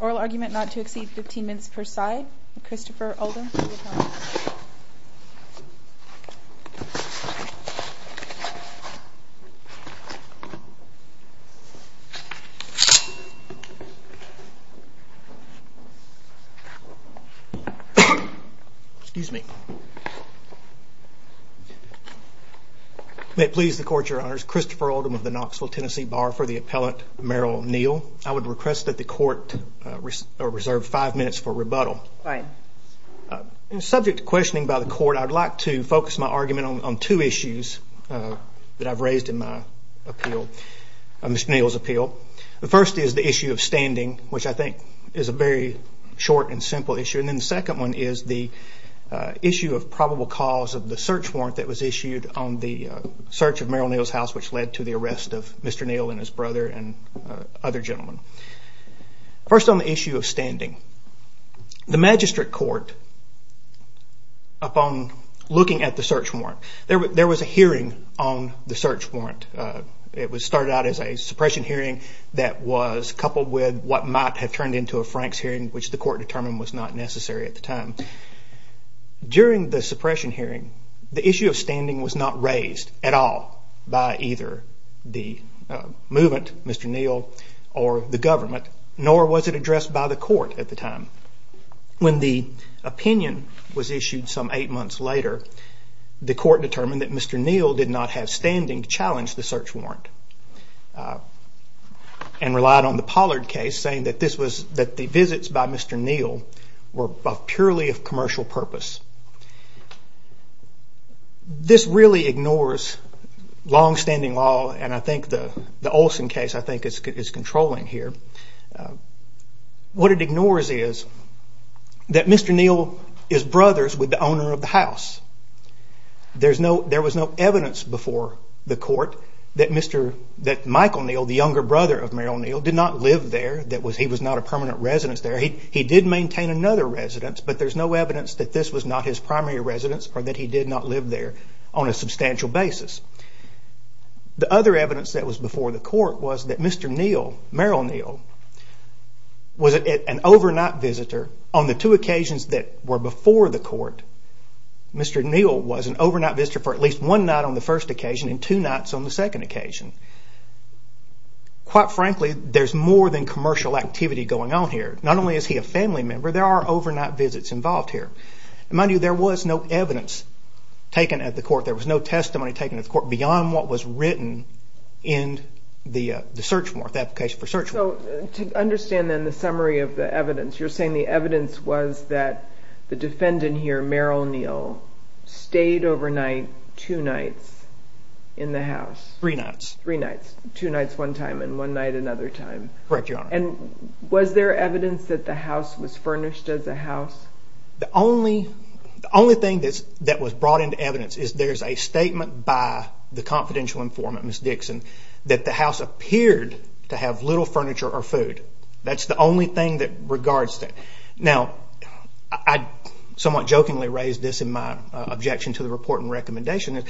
Oral argument not to exceed 15 minutes per side, Christopher Oldham May it please the Court, Your Honors. Christopher Oldham of the Knoxville, Tennessee Bar for the Appellant Merrell Neal. I would request that the Court reserve five minutes for rebuttal. Subject to questioning by the Court, I'd like to focus my argument on two issues that I've raised in my appeal, Mr. Neal's appeal. The first is the issue of standing, which I think is a very short and simple issue. And then the second one is the issue of probable cause of the search warrant that was issued on the search of Merrell Neal's house, which led to the arrest of Mr. Neal and his brother and other gentlemen. First on the issue of standing, the Magistrate Court, upon looking at the search warrant, there was a hearing on the search warrant. It started out as a suppression hearing that was coupled with what might have turned into a Franks hearing, which the Court determined was not necessary at the time. During the suppression hearing, the issue of standing was not raised at all by either the movement, Mr. Neal, or the government, nor was it addressed by the Court at the time. When the opinion was issued some eight months later, the Court determined that Mr. Neal did not have standing to challenge the search warrant and relied on the Pollard case saying that the visits by Mr. Neal were purely of commercial purpose. This really ignores long-standing law, and I think the Olson case is controlling here. What it ignores is that Mr. Neal is brothers with the owner of the house. There was no evidence before the Court that Michael Neal, the younger brother of Merrell Neal, did not live there. He did maintain another residence, but there is no evidence that this was not his primary residence or that he did not live there on a substantial basis. The other evidence that was before the Court was that Mr. Neal, Merrell Neal, was an overnight visitor on the two occasions that were before the Court. Mr. Neal was an overnight visitor for at least one night on the first occasion and two nights on the second occasion. Quite frankly, there is more than commercial activity going on here. Not only is he a family member, there are overnight visits involved here. Mind you, there was no evidence taken at the Court. There was no testimony taken at the Court beyond what was written in the search warrant. To understand the summary of the evidence, you're saying the evidence was that the defendant here, Merrell Neal, stayed overnight two nights in the house. Three nights. Two nights one time and one night another time. Correct, Your Honor. Was there evidence that the house was furnished as a house? The only thing that was brought into evidence is there's a statement by the confidential informant, Ms. Dixon, that the house appeared to have little furniture or food. That's the only thing that regards that. Now, I somewhat jokingly raised this in my objection to the report and recommendation.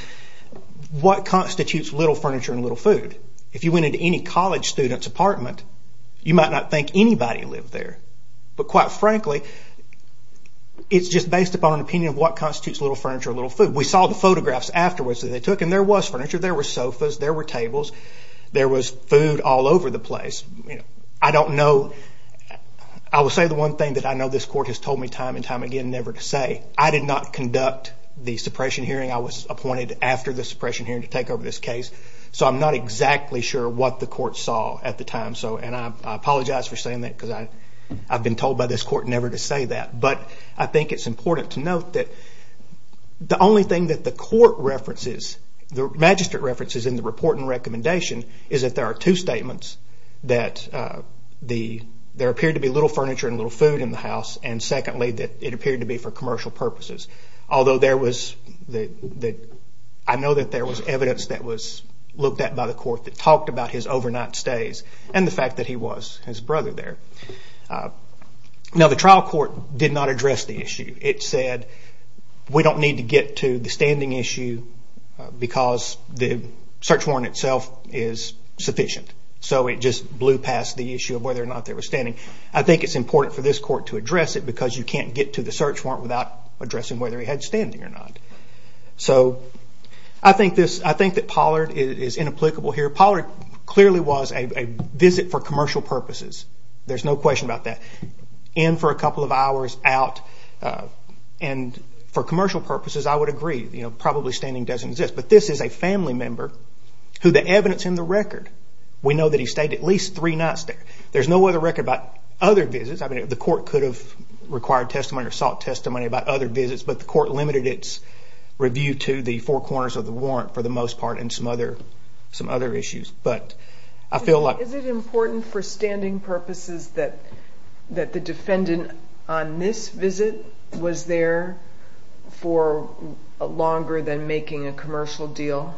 What constitutes little furniture and little food? If you went into any college student's apartment, you might not think anybody lived there. But quite frankly, it's just based upon an opinion of what constitutes little furniture and little food. We saw the photographs afterwards that they took and there was furniture. There were sofas. There were tables. There was food all over the place. I will say the one thing that I know this Court has told me time and time again never to say. I did not conduct the suppression hearing. I was appointed after the suppression hearing to take over this case. So I'm not exactly sure what the Court saw at the time. I apologize for saying that because I've been told by this Court never to say that. But I think it's important to note that the only thing that the Court references, the magistrate references in the report and recommendation, is that there are two statements. That there appeared to be little furniture and little food in the house. And secondly, that it appeared to be for commercial purposes. Although I know that there was evidence that was looked at by the Court that talked about his overnight stays and the fact that he was his brother there. Now the trial court did not address the issue. It said we don't need to get to the standing issue because the search warrant itself is sufficient. So it just blew past the issue of whether or not they were standing. I think it's important for this Court to address it because you can't get to the search warrant without addressing whether he had standing or not. So I think that Pollard is inapplicable here. Pollard clearly was a visit for commercial purposes. There's no question about that. In for a couple of hours, out. And for commercial purposes I would agree. Probably standing doesn't exist. But this is a family member who the evidence in the record, we know that he stayed at least three nights there. There's no other record about other visits. The Court could have required testimony or sought testimony about other visits. But the Court limited its review to the four corners of the warrant for the most part and some other issues. Is it important for standing purposes that the defendant on this visit was there for longer than making a commercial deal?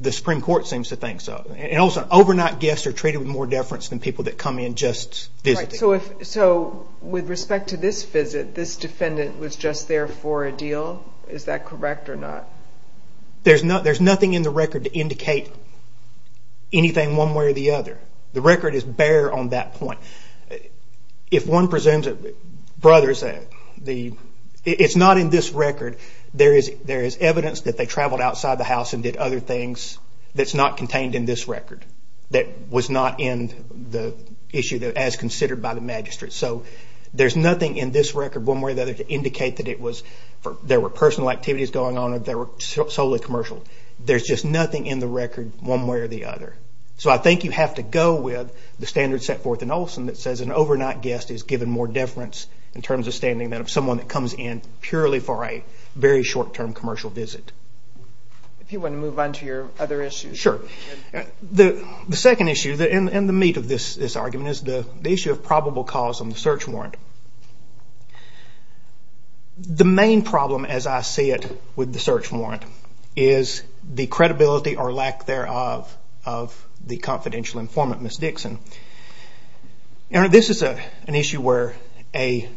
The Supreme Court seems to think so. Also, overnight guests are treated with more deference than people that come in just visiting. So with respect to this visit, this defendant was just there for a deal? Is that correct or not? There's nothing in the record to indicate anything one way or the other. The record is bare on that point. If one presumes that it's not in this record, there is evidence that they traveled outside the house and did other things that's not contained in this record. That was not in the issue as considered by the magistrate. So there's nothing in this record one way or the other to indicate that there were personal activities going on or solely commercial. There's just nothing in the record one way or the other. So I think you have to go with the standard set forth in Olson that says an overnight guest is given more deference in terms of standing than someone that comes in purely for a very short term commercial visit. If you want to move on to your other issues. Sure. The second issue and the meat of this argument is the issue of probable cause on the search warrant. The main problem as I see it with the search warrant is the credibility or lack thereof of the confidential informant, Ms. Dixon. This is an issue where the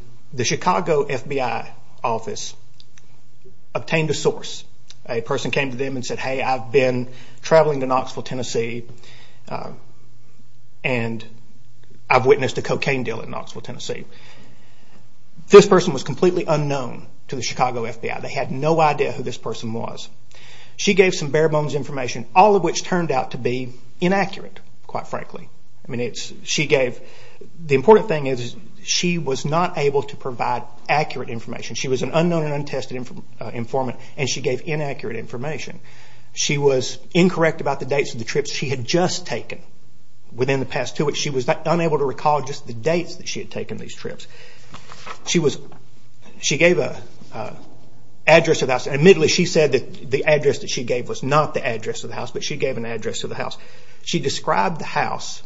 Chicago FBI office obtained a source. A person came to them and said, hey I've been traveling to Knoxville, Tennessee and I've witnessed a cocaine deal in Knoxville, Tennessee. This person was completely unknown to the Chicago FBI. They had no idea who this person was. She gave some bare bones information, all of which turned out to be inaccurate quite frankly. The important thing is she was not able to provide accurate information. She was an unknown and untested informant and she gave inaccurate information. She was incorrect about the dates of the trips she had just taken. Within the past two weeks she was unable to recall just the dates that she had taken these trips. She gave an address of the house. Admittedly she said that the address that she gave was not the address of the house, but she gave an address of the house. She described the house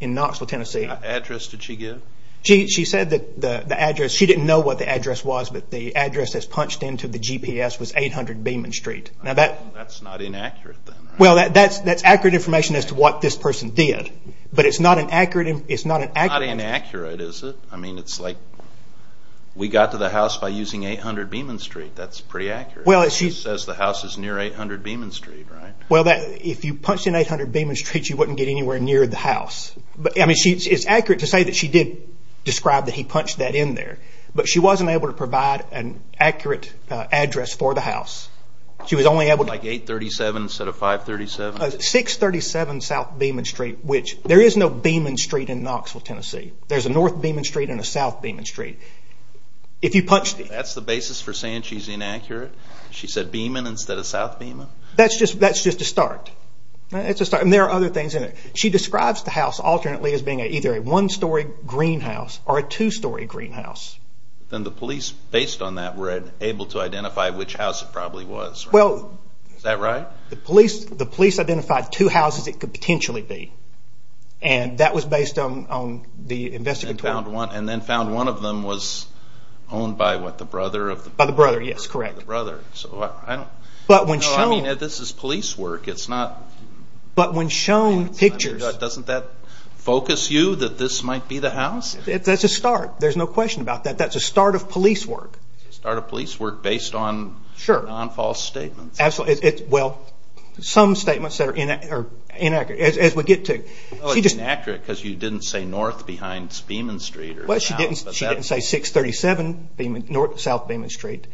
in Knoxville, Tennessee. What address did she give? She didn't know what the address was, but the address that was punched into the GPS was 800 Beeman Street. That's not inaccurate. That's accurate information as to what this person did. It's not inaccurate is it? We got to the house by using 800 Beeman Street. That's pretty accurate. It says the house is near 800 Beeman Street. If you punched in 800 Beeman Street you wouldn't get anywhere near the house. It's accurate to say that she did describe that he punched that in there, but she wasn't able to provide an accurate address for the house. Like 837 instead of 537? 637 South Beeman Street. There is no Beeman Street in Knoxville, Tennessee. There's a North Beeman Street and a South Beeman Street. That's the basis for saying she's inaccurate? She said Beeman instead of South Beeman? That's just a start. There are other things in it. She describes the house alternately as being either a one story greenhouse or a two story greenhouse. Then the police based on that were able to identify which house it probably was. Is that right? The police identified two houses it could potentially be and that was based on the investigation. Then found one of them was owned by the brother? By the brother, yes correct. This is police work. But when shown pictures... Doesn't that focus you that this might be the house? That's a start. There's no question about that. That's a start of police work. A start of police work based on non-false statements? Some statements are inaccurate as we get to. Inaccurate because you didn't say North behind Beeman Street? She didn't say 637 South Beeman Street.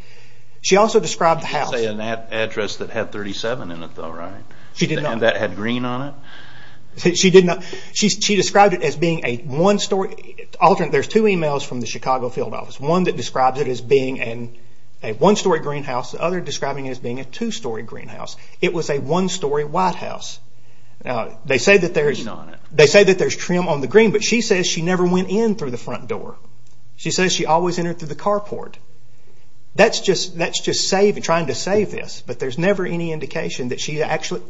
She also described the house... She didn't say an address that had 37 in it though, right? That had green on it? She described it as being a one story... There's two emails from the Chicago field office. One that describes it as being a one story greenhouse. The other describing it as being a two story greenhouse. It was a one story white house. They say that there's trim on the green, but she says she never went in through the front door. She says she always entered through the carport. That's just trying to save this, but there's never any indication that she actually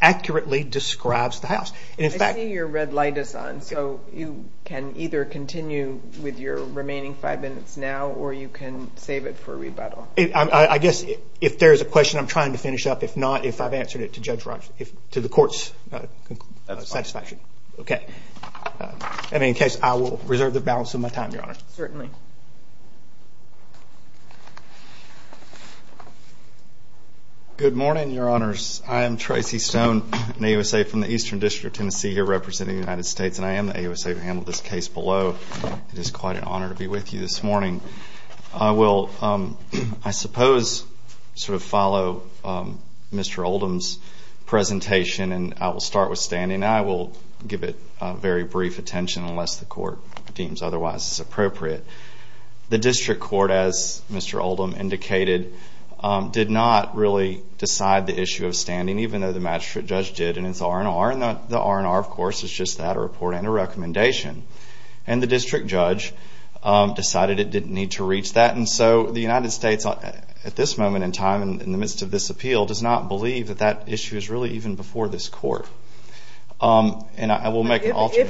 accurately describes the house. I see your red light is on, so you can either continue with your remaining five minutes now, or you can save it for rebuttal. I guess if there's a question I'm trying to finish up, if not, if I've answered it to the court's satisfaction. In any case, I will reserve the balance of my time, Your Honor. Certainly. Good morning, Your Honors. I am Tracy Stone, an AUSA from the Eastern District of Tennessee, here representing the United States, and I am the AUSA to handle this case below. It is quite an honor to be with you this morning. I will, I suppose, follow Mr. Oldham's presentation, and I will start with standing. I will give it very brief attention, unless the court deems otherwise appropriate. The district court, as Mr. Oldham indicated, did not really decide the issue of standing, even though the magistrate judge did, and it's R&R, and the R&R, of course, is just that, a report and a recommendation. And the district judge decided it didn't need to reach that, and so the United States, at this moment in time, in the midst of this appeal, does not believe that that issue is really even before this court. And I will make an alternate.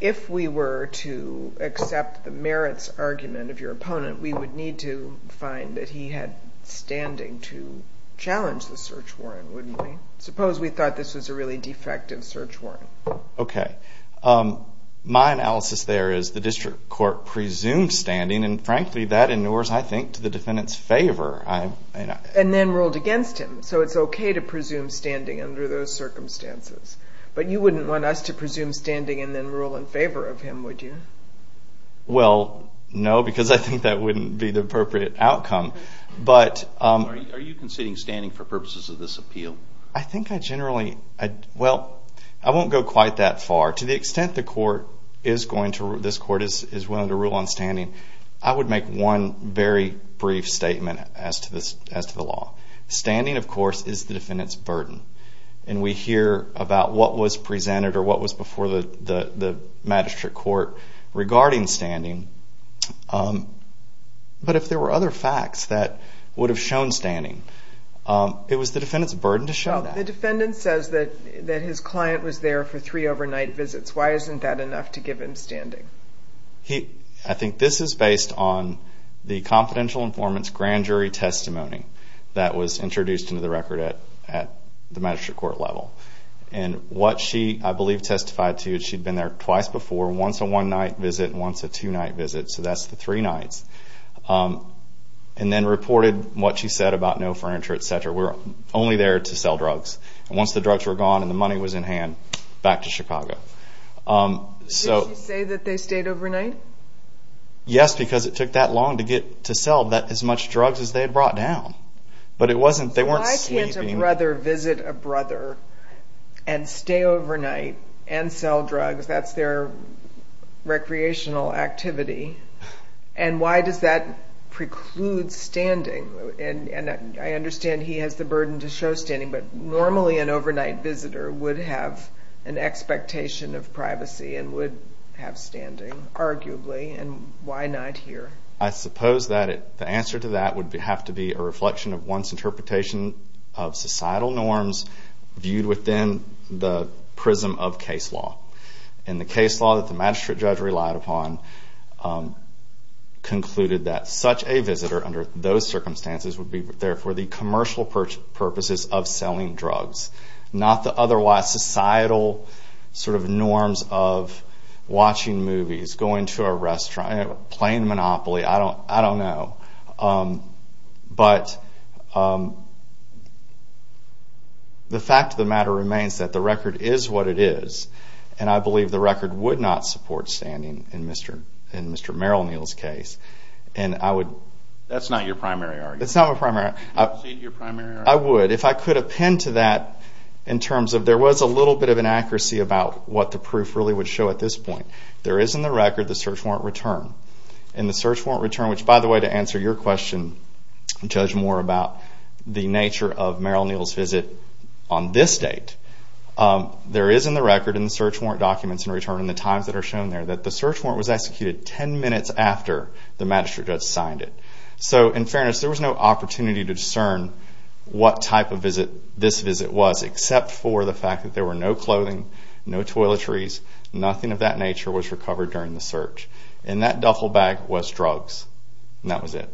If we were to accept the merits argument of your opponent, we would need to find that he had standing to challenge the search warrant, wouldn't we? Suppose we thought this was a really defective search warrant. Okay. My analysis there is the district court presumed standing, and frankly, that inures, I think, to the defendant's favor. And then ruled against him. So it's okay to presume standing under those circumstances. But you wouldn't want us to presume standing and then rule in favor of him, would you? Well, no, because I think that wouldn't be the appropriate outcome. Are you conceding standing for purposes of this appeal? I think I generally, well, I won't go quite that far. To the extent this court is willing to rule on standing, I would make one very brief statement as to the law. Standing, of course, is the defendant's burden. And we hear about what was presented or what was before the magistrate court regarding standing. But if there were other facts that would have shown standing, it was the defendant's burden to show that. Well, the defendant says that his client was there for three overnight visits. Why isn't that enough to give him standing? I think this is based on the confidential informant's grand jury testimony that was introduced into the record at the magistrate court level. And what she, I believe, testified to is she'd been there twice before, once a one-night visit and once a two-night visit. So that's the three nights. And then reported what she said about no furniture, et cetera. We're only there to sell drugs. And once the drugs were gone and the money was in hand, back to Chicago. Did she say that they stayed overnight? Yes, because it took that long to get to sell as much drugs as they had brought down. But they weren't sleeping. Why can't a brother visit a brother and stay overnight and sell drugs? That's their recreational activity. And why does that preclude standing? And I understand he has the burden to show standing, but normally an overnight visitor would have an expectation of privacy and would have standing, arguably, and why not here? I suppose that the answer to that would have to be a reflection of one's interpretation of societal norms viewed within the prism of case law. And the case law that the magistrate judge relied upon concluded that such a visitor under those circumstances would be there for the commercial purposes of selling drugs, not the otherwise societal norms of watching movies, going to a restaurant, playing Monopoly. I don't know. But the fact of the matter remains that the record is what it is, and I believe the record would not support standing in Mr. Merrill Neal's case. That's not your primary argument. It's not my primary argument. Would you cede your primary argument? I would. If I could append to that in terms of there was a little bit of inaccuracy about what the proof really would show at this point. There is in the record the search warrant return. And the search warrant return, which, by the way, to answer your question, Judge Moore, about the nature of Merrill Neal's visit on this date, there is in the record in the search warrant documents in return and the times that are shown there that the search warrant was executed ten minutes after the magistrate judge signed it. So in fairness, there was no opportunity to discern what type of visit this visit was, except for the fact that there were no clothing, no toiletries, nothing of that nature was recovered during the search. And that duffel bag was drugs, and that was it.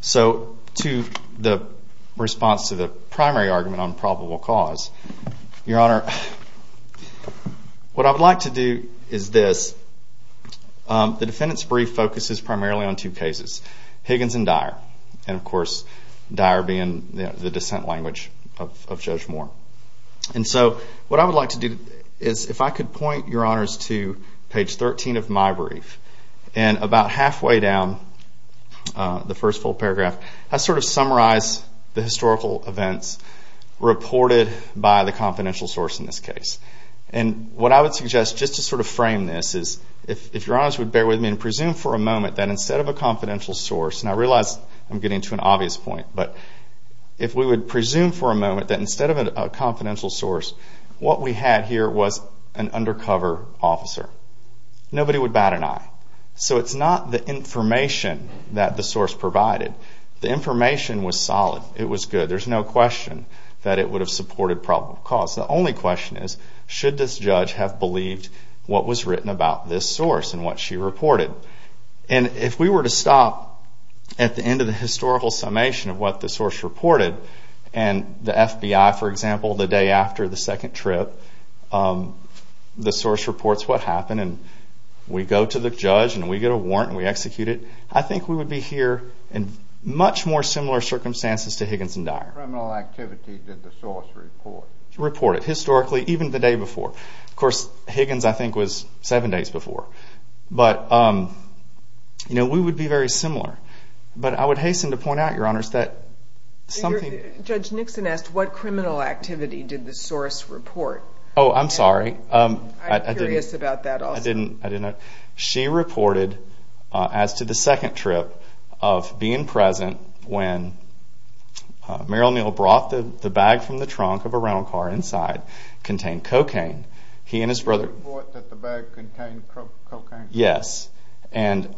So to the response to the primary argument on probable cause, Your Honor, what I would like to do is this. The defendant's brief focuses primarily on two cases, Higgins and Dyer. And, of course, Dyer being the dissent language of Judge Moore. And so what I would like to do is if I could point, Your Honors, to page 13 of my brief. And about halfway down the first full paragraph, I sort of summarize the historical events reported by the confidential source in this case. And what I would suggest, just to sort of frame this, is if Your Honors would bear with me and presume for a moment that instead of a confidential source, and I realize I'm getting to an obvious point, but if we would presume for a moment that instead of a confidential source, what we had here was an undercover officer. Nobody would bat an eye. So it's not the information that the source provided. The information was solid. It was good. There's no question that it would have supported probable cause. The only question is, should this judge have believed what was written about this source and what she reported? And if we were to stop at the end of the historical summation of what the source reported, and the FBI, for example, the day after the second trip, the source reports what happened, and we go to the judge, and we get a warrant, and we execute it, I think we would be here in much more similar circumstances to Higgins and Dyer. What criminal activity did the source report? Report it. Historically, even the day before. Of course, Higgins, I think, was seven days before. But we would be very similar. But I would hasten to point out, Your Honors, that something... Oh, I'm sorry. I didn't... I'm curious about that also. I didn't... She reported as to the second trip of being present when Meryl Neal brought the bag from the trunk of a rental car inside, contained cocaine. He and his brother... Did you report that the bag contained cocaine? Yes. And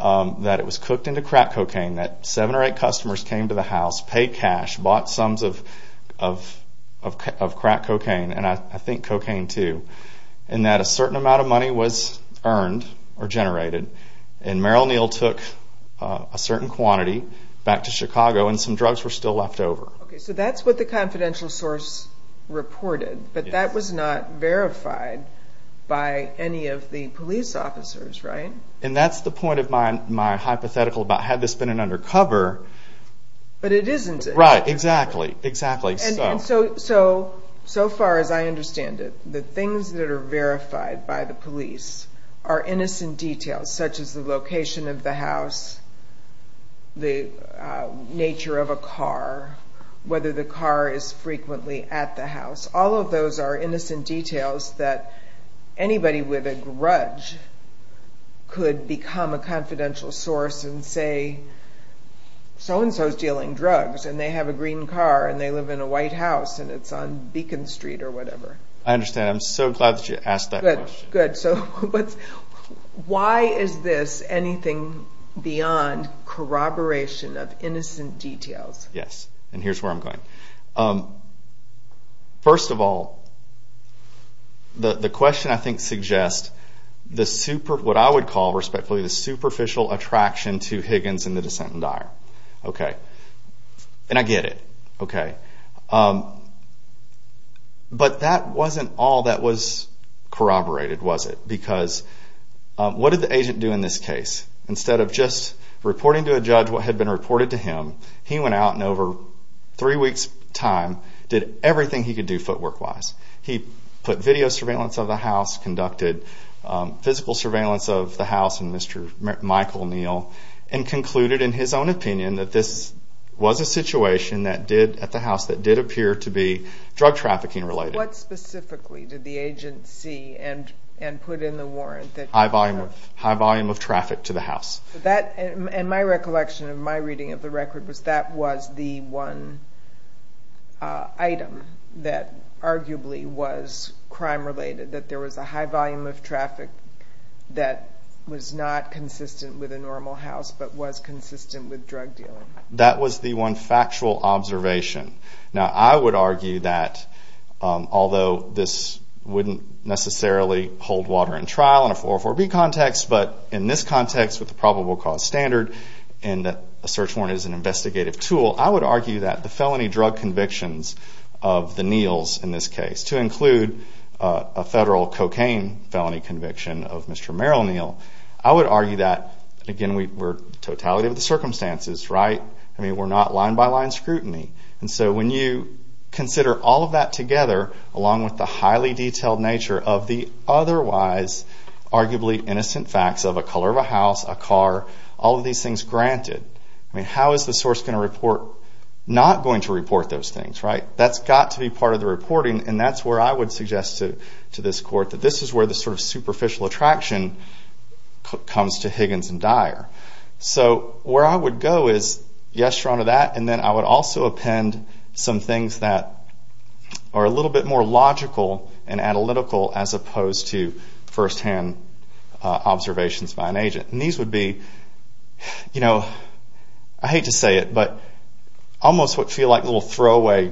that it was cooked into crack cocaine, that seven or eight customers came to the house, paid cash, bought sums of crack cocaine, and I think cocaine, too, and that a certain amount of money was earned or generated, and Meryl Neal took a certain quantity back to Chicago, and some drugs were still left over. So that's what the confidential source reported, but that was not verified by any of the police officers, right? And that's the point of my hypothetical about had this been an undercover... But it isn't. Right. Exactly. Exactly. So far as I understand it, the things that are verified by the police are innocent details, such as the location of the house, the nature of a car, whether the car is frequently at the house. All of those are innocent details that anybody with a grudge could become a confidential source and say, so-and-so is dealing drugs and they have a green car and they live in a white house and it's on Beacon Street or whatever. I understand. I'm so glad that you asked that question. Good. Good. So why is this anything beyond corroboration of innocent details? Yes. And here's where I'm going. First of all, the question, I think, suggests what I would call, respectfully, the superficial attraction to Higgins and the Descent and Dyer. Okay. And I get it. Okay. But that wasn't all that was corroborated, was it? Because what did the agent do in this case? Instead of just reporting to a judge what had been reported to him, he went out and over three weeks' time did everything he could do footwork-wise. He put video surveillance of the house, conducted physical surveillance of the house and Mr. Michael Neal, and concluded in his own opinion that this was a situation at the house that did appear to be drug trafficking-related. What specifically did the agent see and put in the warrant? High volume of traffic to the house. And my recollection of my reading of the record was that was the one item that arguably was crime-related, that there was a high volume of traffic that was not consistent with a normal house but was consistent with drug dealing. That was the one factual observation. Now, I would argue that although this wouldn't necessarily hold water in trial in a 404B context, but in this context with the probable cause standard and that a search warrant is an investigative tool, I would argue that the felony drug convictions of the Neals in this case, to include a federal cocaine felony conviction of Mr. Merrill Neal, I would argue that, again, we're totality of the circumstances, right? I mean, we're not line-by-line scrutiny. And so when you consider all of that together, along with the highly detailed nature of the otherwise arguably innocent facts of a color of a house, a car, all of these things granted, I mean, how is the source going to report not going to report those things, right? That's got to be part of the reporting, and that's where I would suggest to this court that this is where the sort of superficial attraction comes to Higgins and Dyer. So where I would go is, yes, you're onto that, and then I would also append some things that are a little bit more logical and analytical as opposed to firsthand observations by an agent. And these would be, you know, I hate to say it, but almost what feel like little throwaway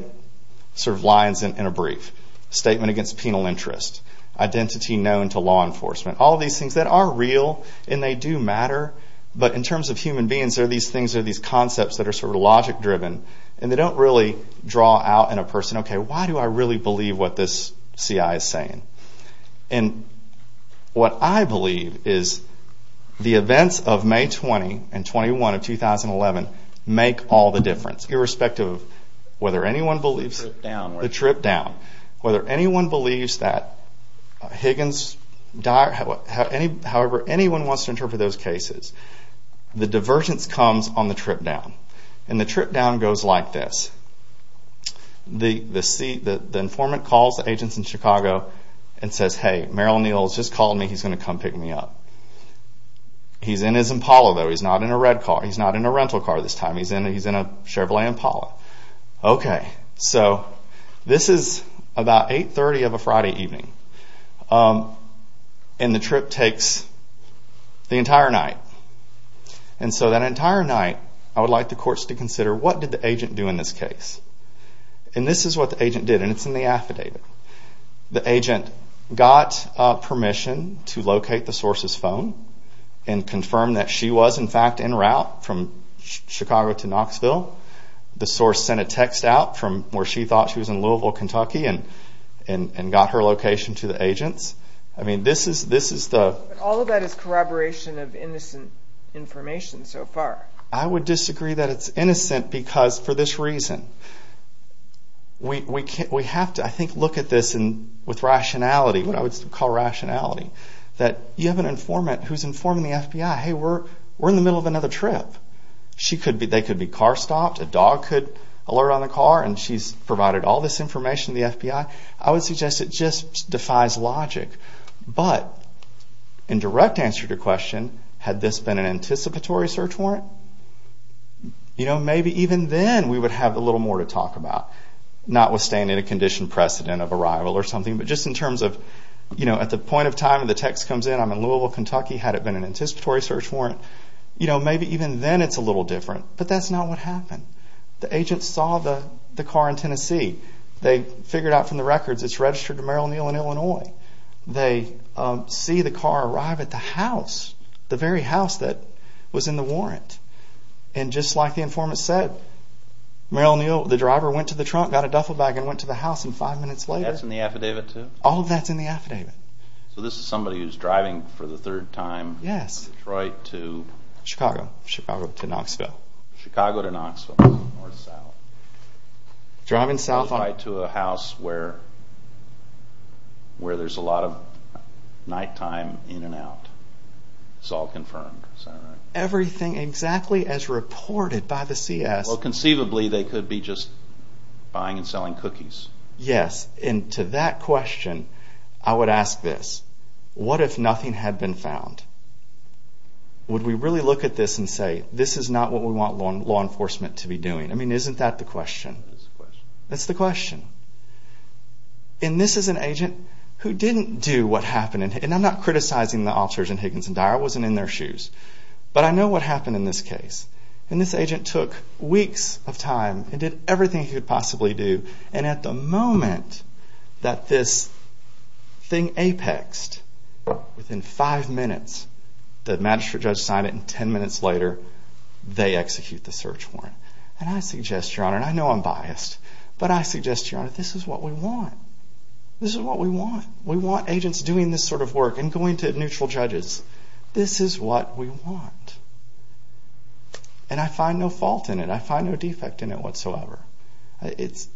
sort of lines in a brief. Statement against penal interest. Identity known to law enforcement. All of these things that are real, and they do matter, but in terms of human beings, there are these things, there are these concepts that are sort of logic-driven, and they don't really draw out in a person, okay, why do I really believe what this CI is saying? And what I believe is the events of May 20 and 21 of 2011 make all the difference, irrespective of whether anyone believes... The trip down. The trip down. Whether anyone believes that Higgins, Dyer, however anyone wants to interpret those cases, the divergence comes on the trip down. And the trip down goes like this. The informant calls the agents in Chicago and says, hey, Merrill Neal has just called me, he's going to come pick me up. He's in his Impala, though, he's not in a rental car this time, he's in a Chevrolet Impala. Okay, so this is about 8.30 of a Friday evening, and the trip takes the entire night. And so that entire night, I would like the courts to consider, what did the agent do in this case? And this is what the agent did, and it's in the affidavit. The agent got permission to locate the source's phone and confirm that she was, in fact, en route from Chicago to Knoxville. The source sent a text out from where she thought she was, in Louisville, Kentucky, and got her location to the agents. I mean, this is the... All of that is corroboration of innocent information so far. I would disagree that it's innocent because, for this reason, we have to, I think, look at this with rationality, what I would call rationality, that you have an informant who's informing the FBI, hey, we're in the middle of another trip. They could be car stopped, a dog could alert on the car, and she's provided all this information to the FBI. I would suggest it just defies logic. But, in direct answer to your question, had this been an anticipatory search warrant? You know, maybe even then we would have a little more to talk about, notwithstanding a condition precedent of arrival or something, but just in terms of, you know, at the point of time the text comes in, I'm in Louisville, Kentucky, had it been an anticipatory search warrant, you know, maybe even then it's a little different. But that's not what happened. The agents saw the car in Tennessee. They figured out from the records it's registered to Merrill, Neal, and Illinois. They see the car arrive at the house, the very house that was in the warrant. And just like the informant said, Merrill, Neal, the driver went to the trunk, got a duffel bag, and went to the house, and five minutes later... That's in the affidavit too? All of that's in the affidavit. So this is somebody who's driving for the third time... Yes. Detroit to... Chicago. Chicago to Knoxville. Chicago to Knoxville, north-south. Driving south on... It's all confirmed, is that right? Everything exactly as reported by the CS. Well, conceivably, they could be just buying and selling cookies. Yes, and to that question, I would ask this. What if nothing had been found? Would we really look at this and say, this is not what we want law enforcement to be doing? I mean, isn't that the question? That is the question. That's the question. And this is an agent who didn't do what happened. And I'm not criticizing the officers in Higgins and Dyer. I wasn't in their shoes. But I know what happened in this case. And this agent took weeks of time and did everything he could possibly do, and at the moment that this thing apexed, within five minutes, the magistrate judge signed it, and ten minutes later, they execute the search warrant. And I suggest, Your Honor, and I know I'm biased, but I suggest, Your Honor, this is what we want. This is what we want. We want agents doing this sort of work and going to neutral judges. This is what we want. And I find no fault in it. I find no defect in it whatsoever.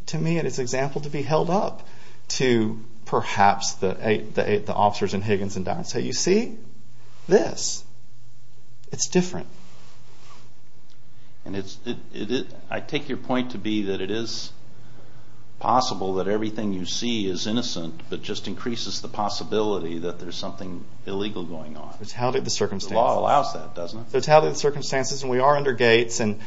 To me, it is an example to be held up to perhaps the officers in Higgins and Dyer and say, you see? This, it's different. And I take your point to be that it is possible that everything you see is innocent, but just increases the possibility that there's something illegal going on. The law allows that, doesn't it? The circumstances, and we are under gates, and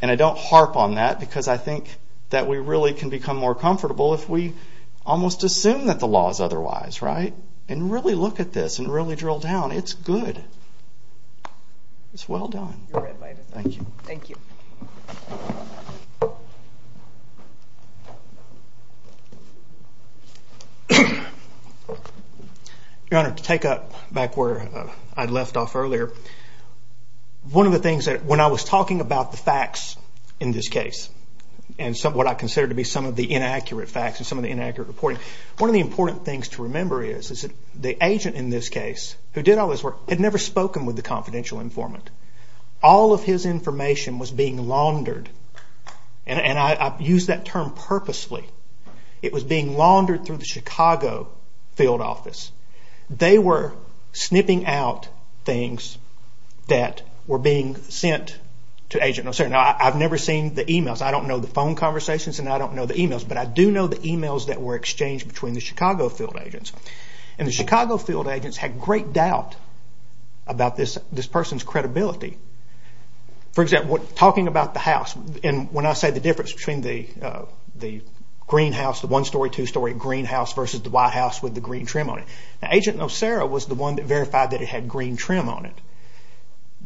I don't harp on that because I think that we really can become more comfortable if we almost assume that the law is otherwise, right? And really look at this and really drill down. It's good. It's well done. Thank you. Thank you. Your Honor, to take up back where I left off earlier, one of the things that, when I was talking about the facts in this case and what I consider to be some of the inaccurate facts and some of the inaccurate reporting, one of the important things to remember is is that the agent in this case, who did all this work, had never spoken with the confidential informant. All of his information was being laundered, and I use that term purposely. It was being laundered through the Chicago field office. They were snipping out things that were being sent to Agent O'Shea. Now, I've never seen the e-mails. I don't know the phone conversations, and I don't know the e-mails, but I do know the e-mails that were exchanged between the Chicago field agents, and the Chicago field agents had great doubt about this person's credibility. For example, talking about the house, and when I say the difference between the green house, the one-story, two-story green house, versus the white house with the green trim on it, Agent O'Shea was the one that verified that it had green trim on it.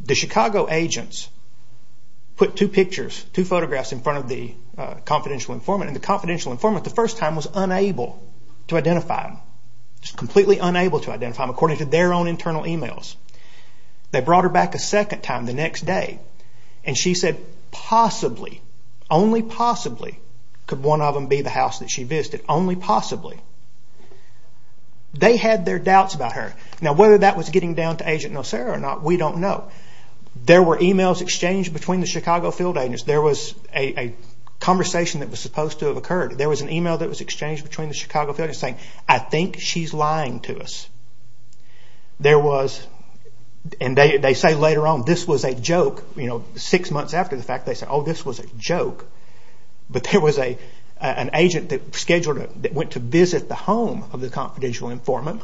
The Chicago agents put two pictures, two photographs in front of the confidential informant, and the confidential informant, the first time was unable to identify him, just completely unable to identify him according to their own internal e-mails. They brought her back a second time the next day, and she said, possibly, only possibly, could one of them be the house that she visited, only possibly. They had their doubts about her. Now, whether that was getting down to Agent O'Shea or not, we don't know. There were e-mails exchanged between the Chicago field agents. There was a conversation that was supposed to have occurred. There was an e-mail that was exchanged between the Chicago field agents saying, I think she's lying to us. There was, and they say later on, this was a joke. You know, six months after the fact, they said, oh, this was a joke. But there was an agent that went to visit the home of the confidential informant,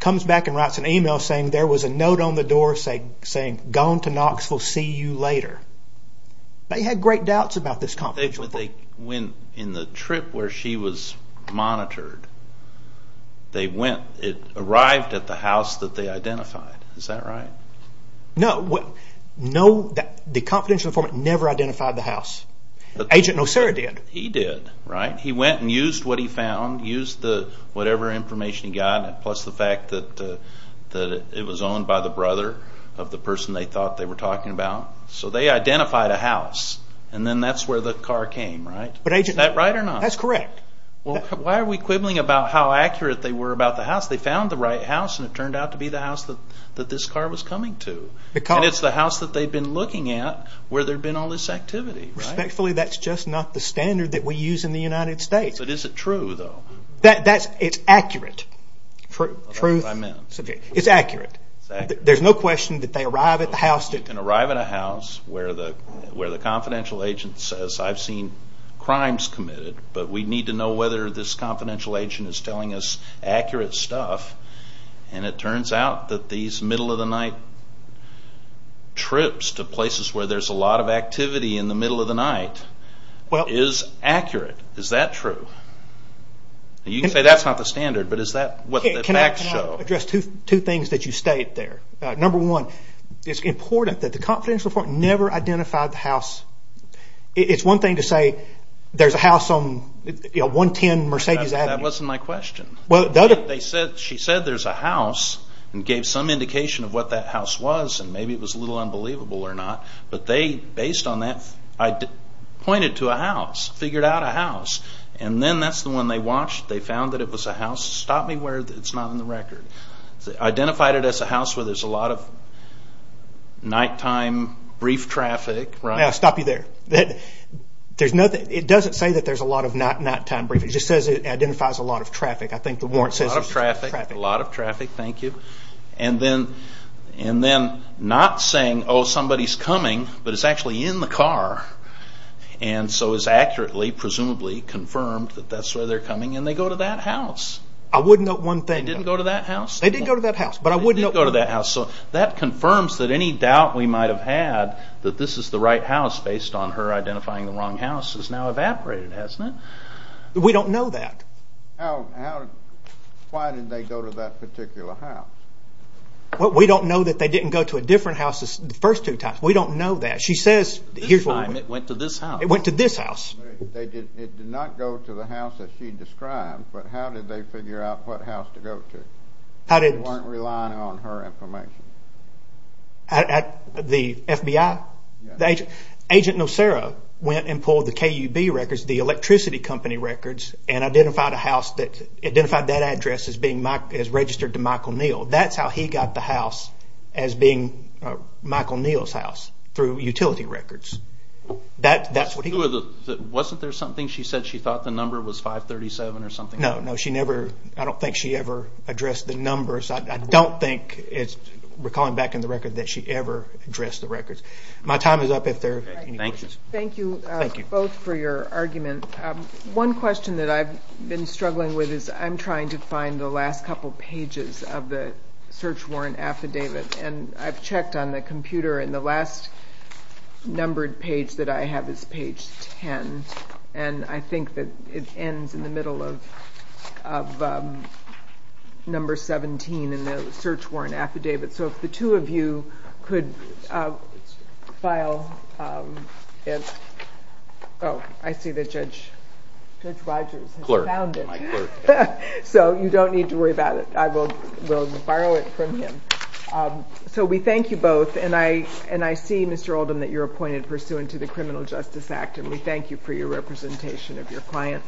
comes back and writes an e-mail saying there was a note on the door saying, gone to Knoxville, see you later. They had great doubts about this confidential informant. In the trip where she was monitored, it arrived at the house that they identified. Is that right? No, the confidential informant never identified the house. Agent Nocera did. He did, right? He went and used what he found, used whatever information he got, plus the fact that it was owned by the brother of the person they thought they were talking about. So they identified a house, and then that's where the car came, right? Is that right or not? That's correct. Well, why are we quibbling about how accurate they were about the house? They found the right house, and it turned out to be the house that this car was coming to. And it's the house that they'd been looking at where there'd been all this activity, right? Respectfully, that's just not the standard that we use in the United States. But is it true, though? It's accurate. Truth? I meant. It's accurate. There's no question that they arrive at the house. You can arrive at a house where the confidential agent says, I've seen crimes committed, but we need to know whether this confidential agent is telling us accurate stuff. And it turns out that these middle-of-the-night trips to places where there's a lot of activity in the middle of the night is accurate. Is that true? You can say that's not the standard, but is that what the facts show? Can I address two things that you state there? Number one, it's important that the confidential agent never identified the house. It's one thing to say there's a house on 110 Mercedes Avenue. That wasn't my question. She said there's a house and gave some indication of what that house was, and maybe it was a little unbelievable or not. But they, based on that, pointed to a house, figured out a house. And then that's the one they watched. They found that it was a house. Stop me where it's not on the record. Identified it as a house where there's a lot of nighttime brief traffic. Stop you there. It doesn't say that there's a lot of nighttime briefing. It just says it identifies a lot of traffic. A lot of traffic, thank you. And then not saying, oh, somebody's coming, but it's actually in the car. And so it's accurately, presumably, confirmed that that's where they're coming, and they go to that house. I would note one thing. They didn't go to that house? They did go to that house, but I wouldn't note one. That confirms that any doubt we might have had that this is the right house, based on her identifying the wrong house, has now evaporated, hasn't it? We don't know that. Why did they go to that particular house? We don't know that they didn't go to a different house the first two times. We don't know that. This time it went to this house. It went to this house. It did not go to the house that she described, but how did they figure out what house to go to? They weren't relying on her information. The FBI? Agent Nocera went and pulled the KUB records, the electricity company records, and identified that address as registered to Michael Neal. That's how he got the house as being Michael Neal's house, through utility records. That's what he did. Wasn't there something? She said she thought the number was 537 or something. No, no. I don't think she ever addressed the numbers. I don't think, recalling back in the record, that she ever addressed the records. My time is up if there are any questions. Thank you both for your argument. One question that I've been struggling with is I'm trying to find the last couple pages of the search warrant affidavit, and I've checked on the computer, and the last numbered page that I have is page 10, and I think that it ends in the middle of number 17 in the search warrant affidavit. So if the two of you could file it. Oh, I see that Judge Rogers has found it. My clerk. So you don't need to worry about it. I will borrow it from him. So we thank you both, and I see, Mr. Oldham, that you're appointed pursuant to the Criminal Justice Act, and we thank you for your representation of your client.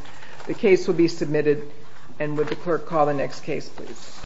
The case will be submitted, and would the clerk call the next case, please.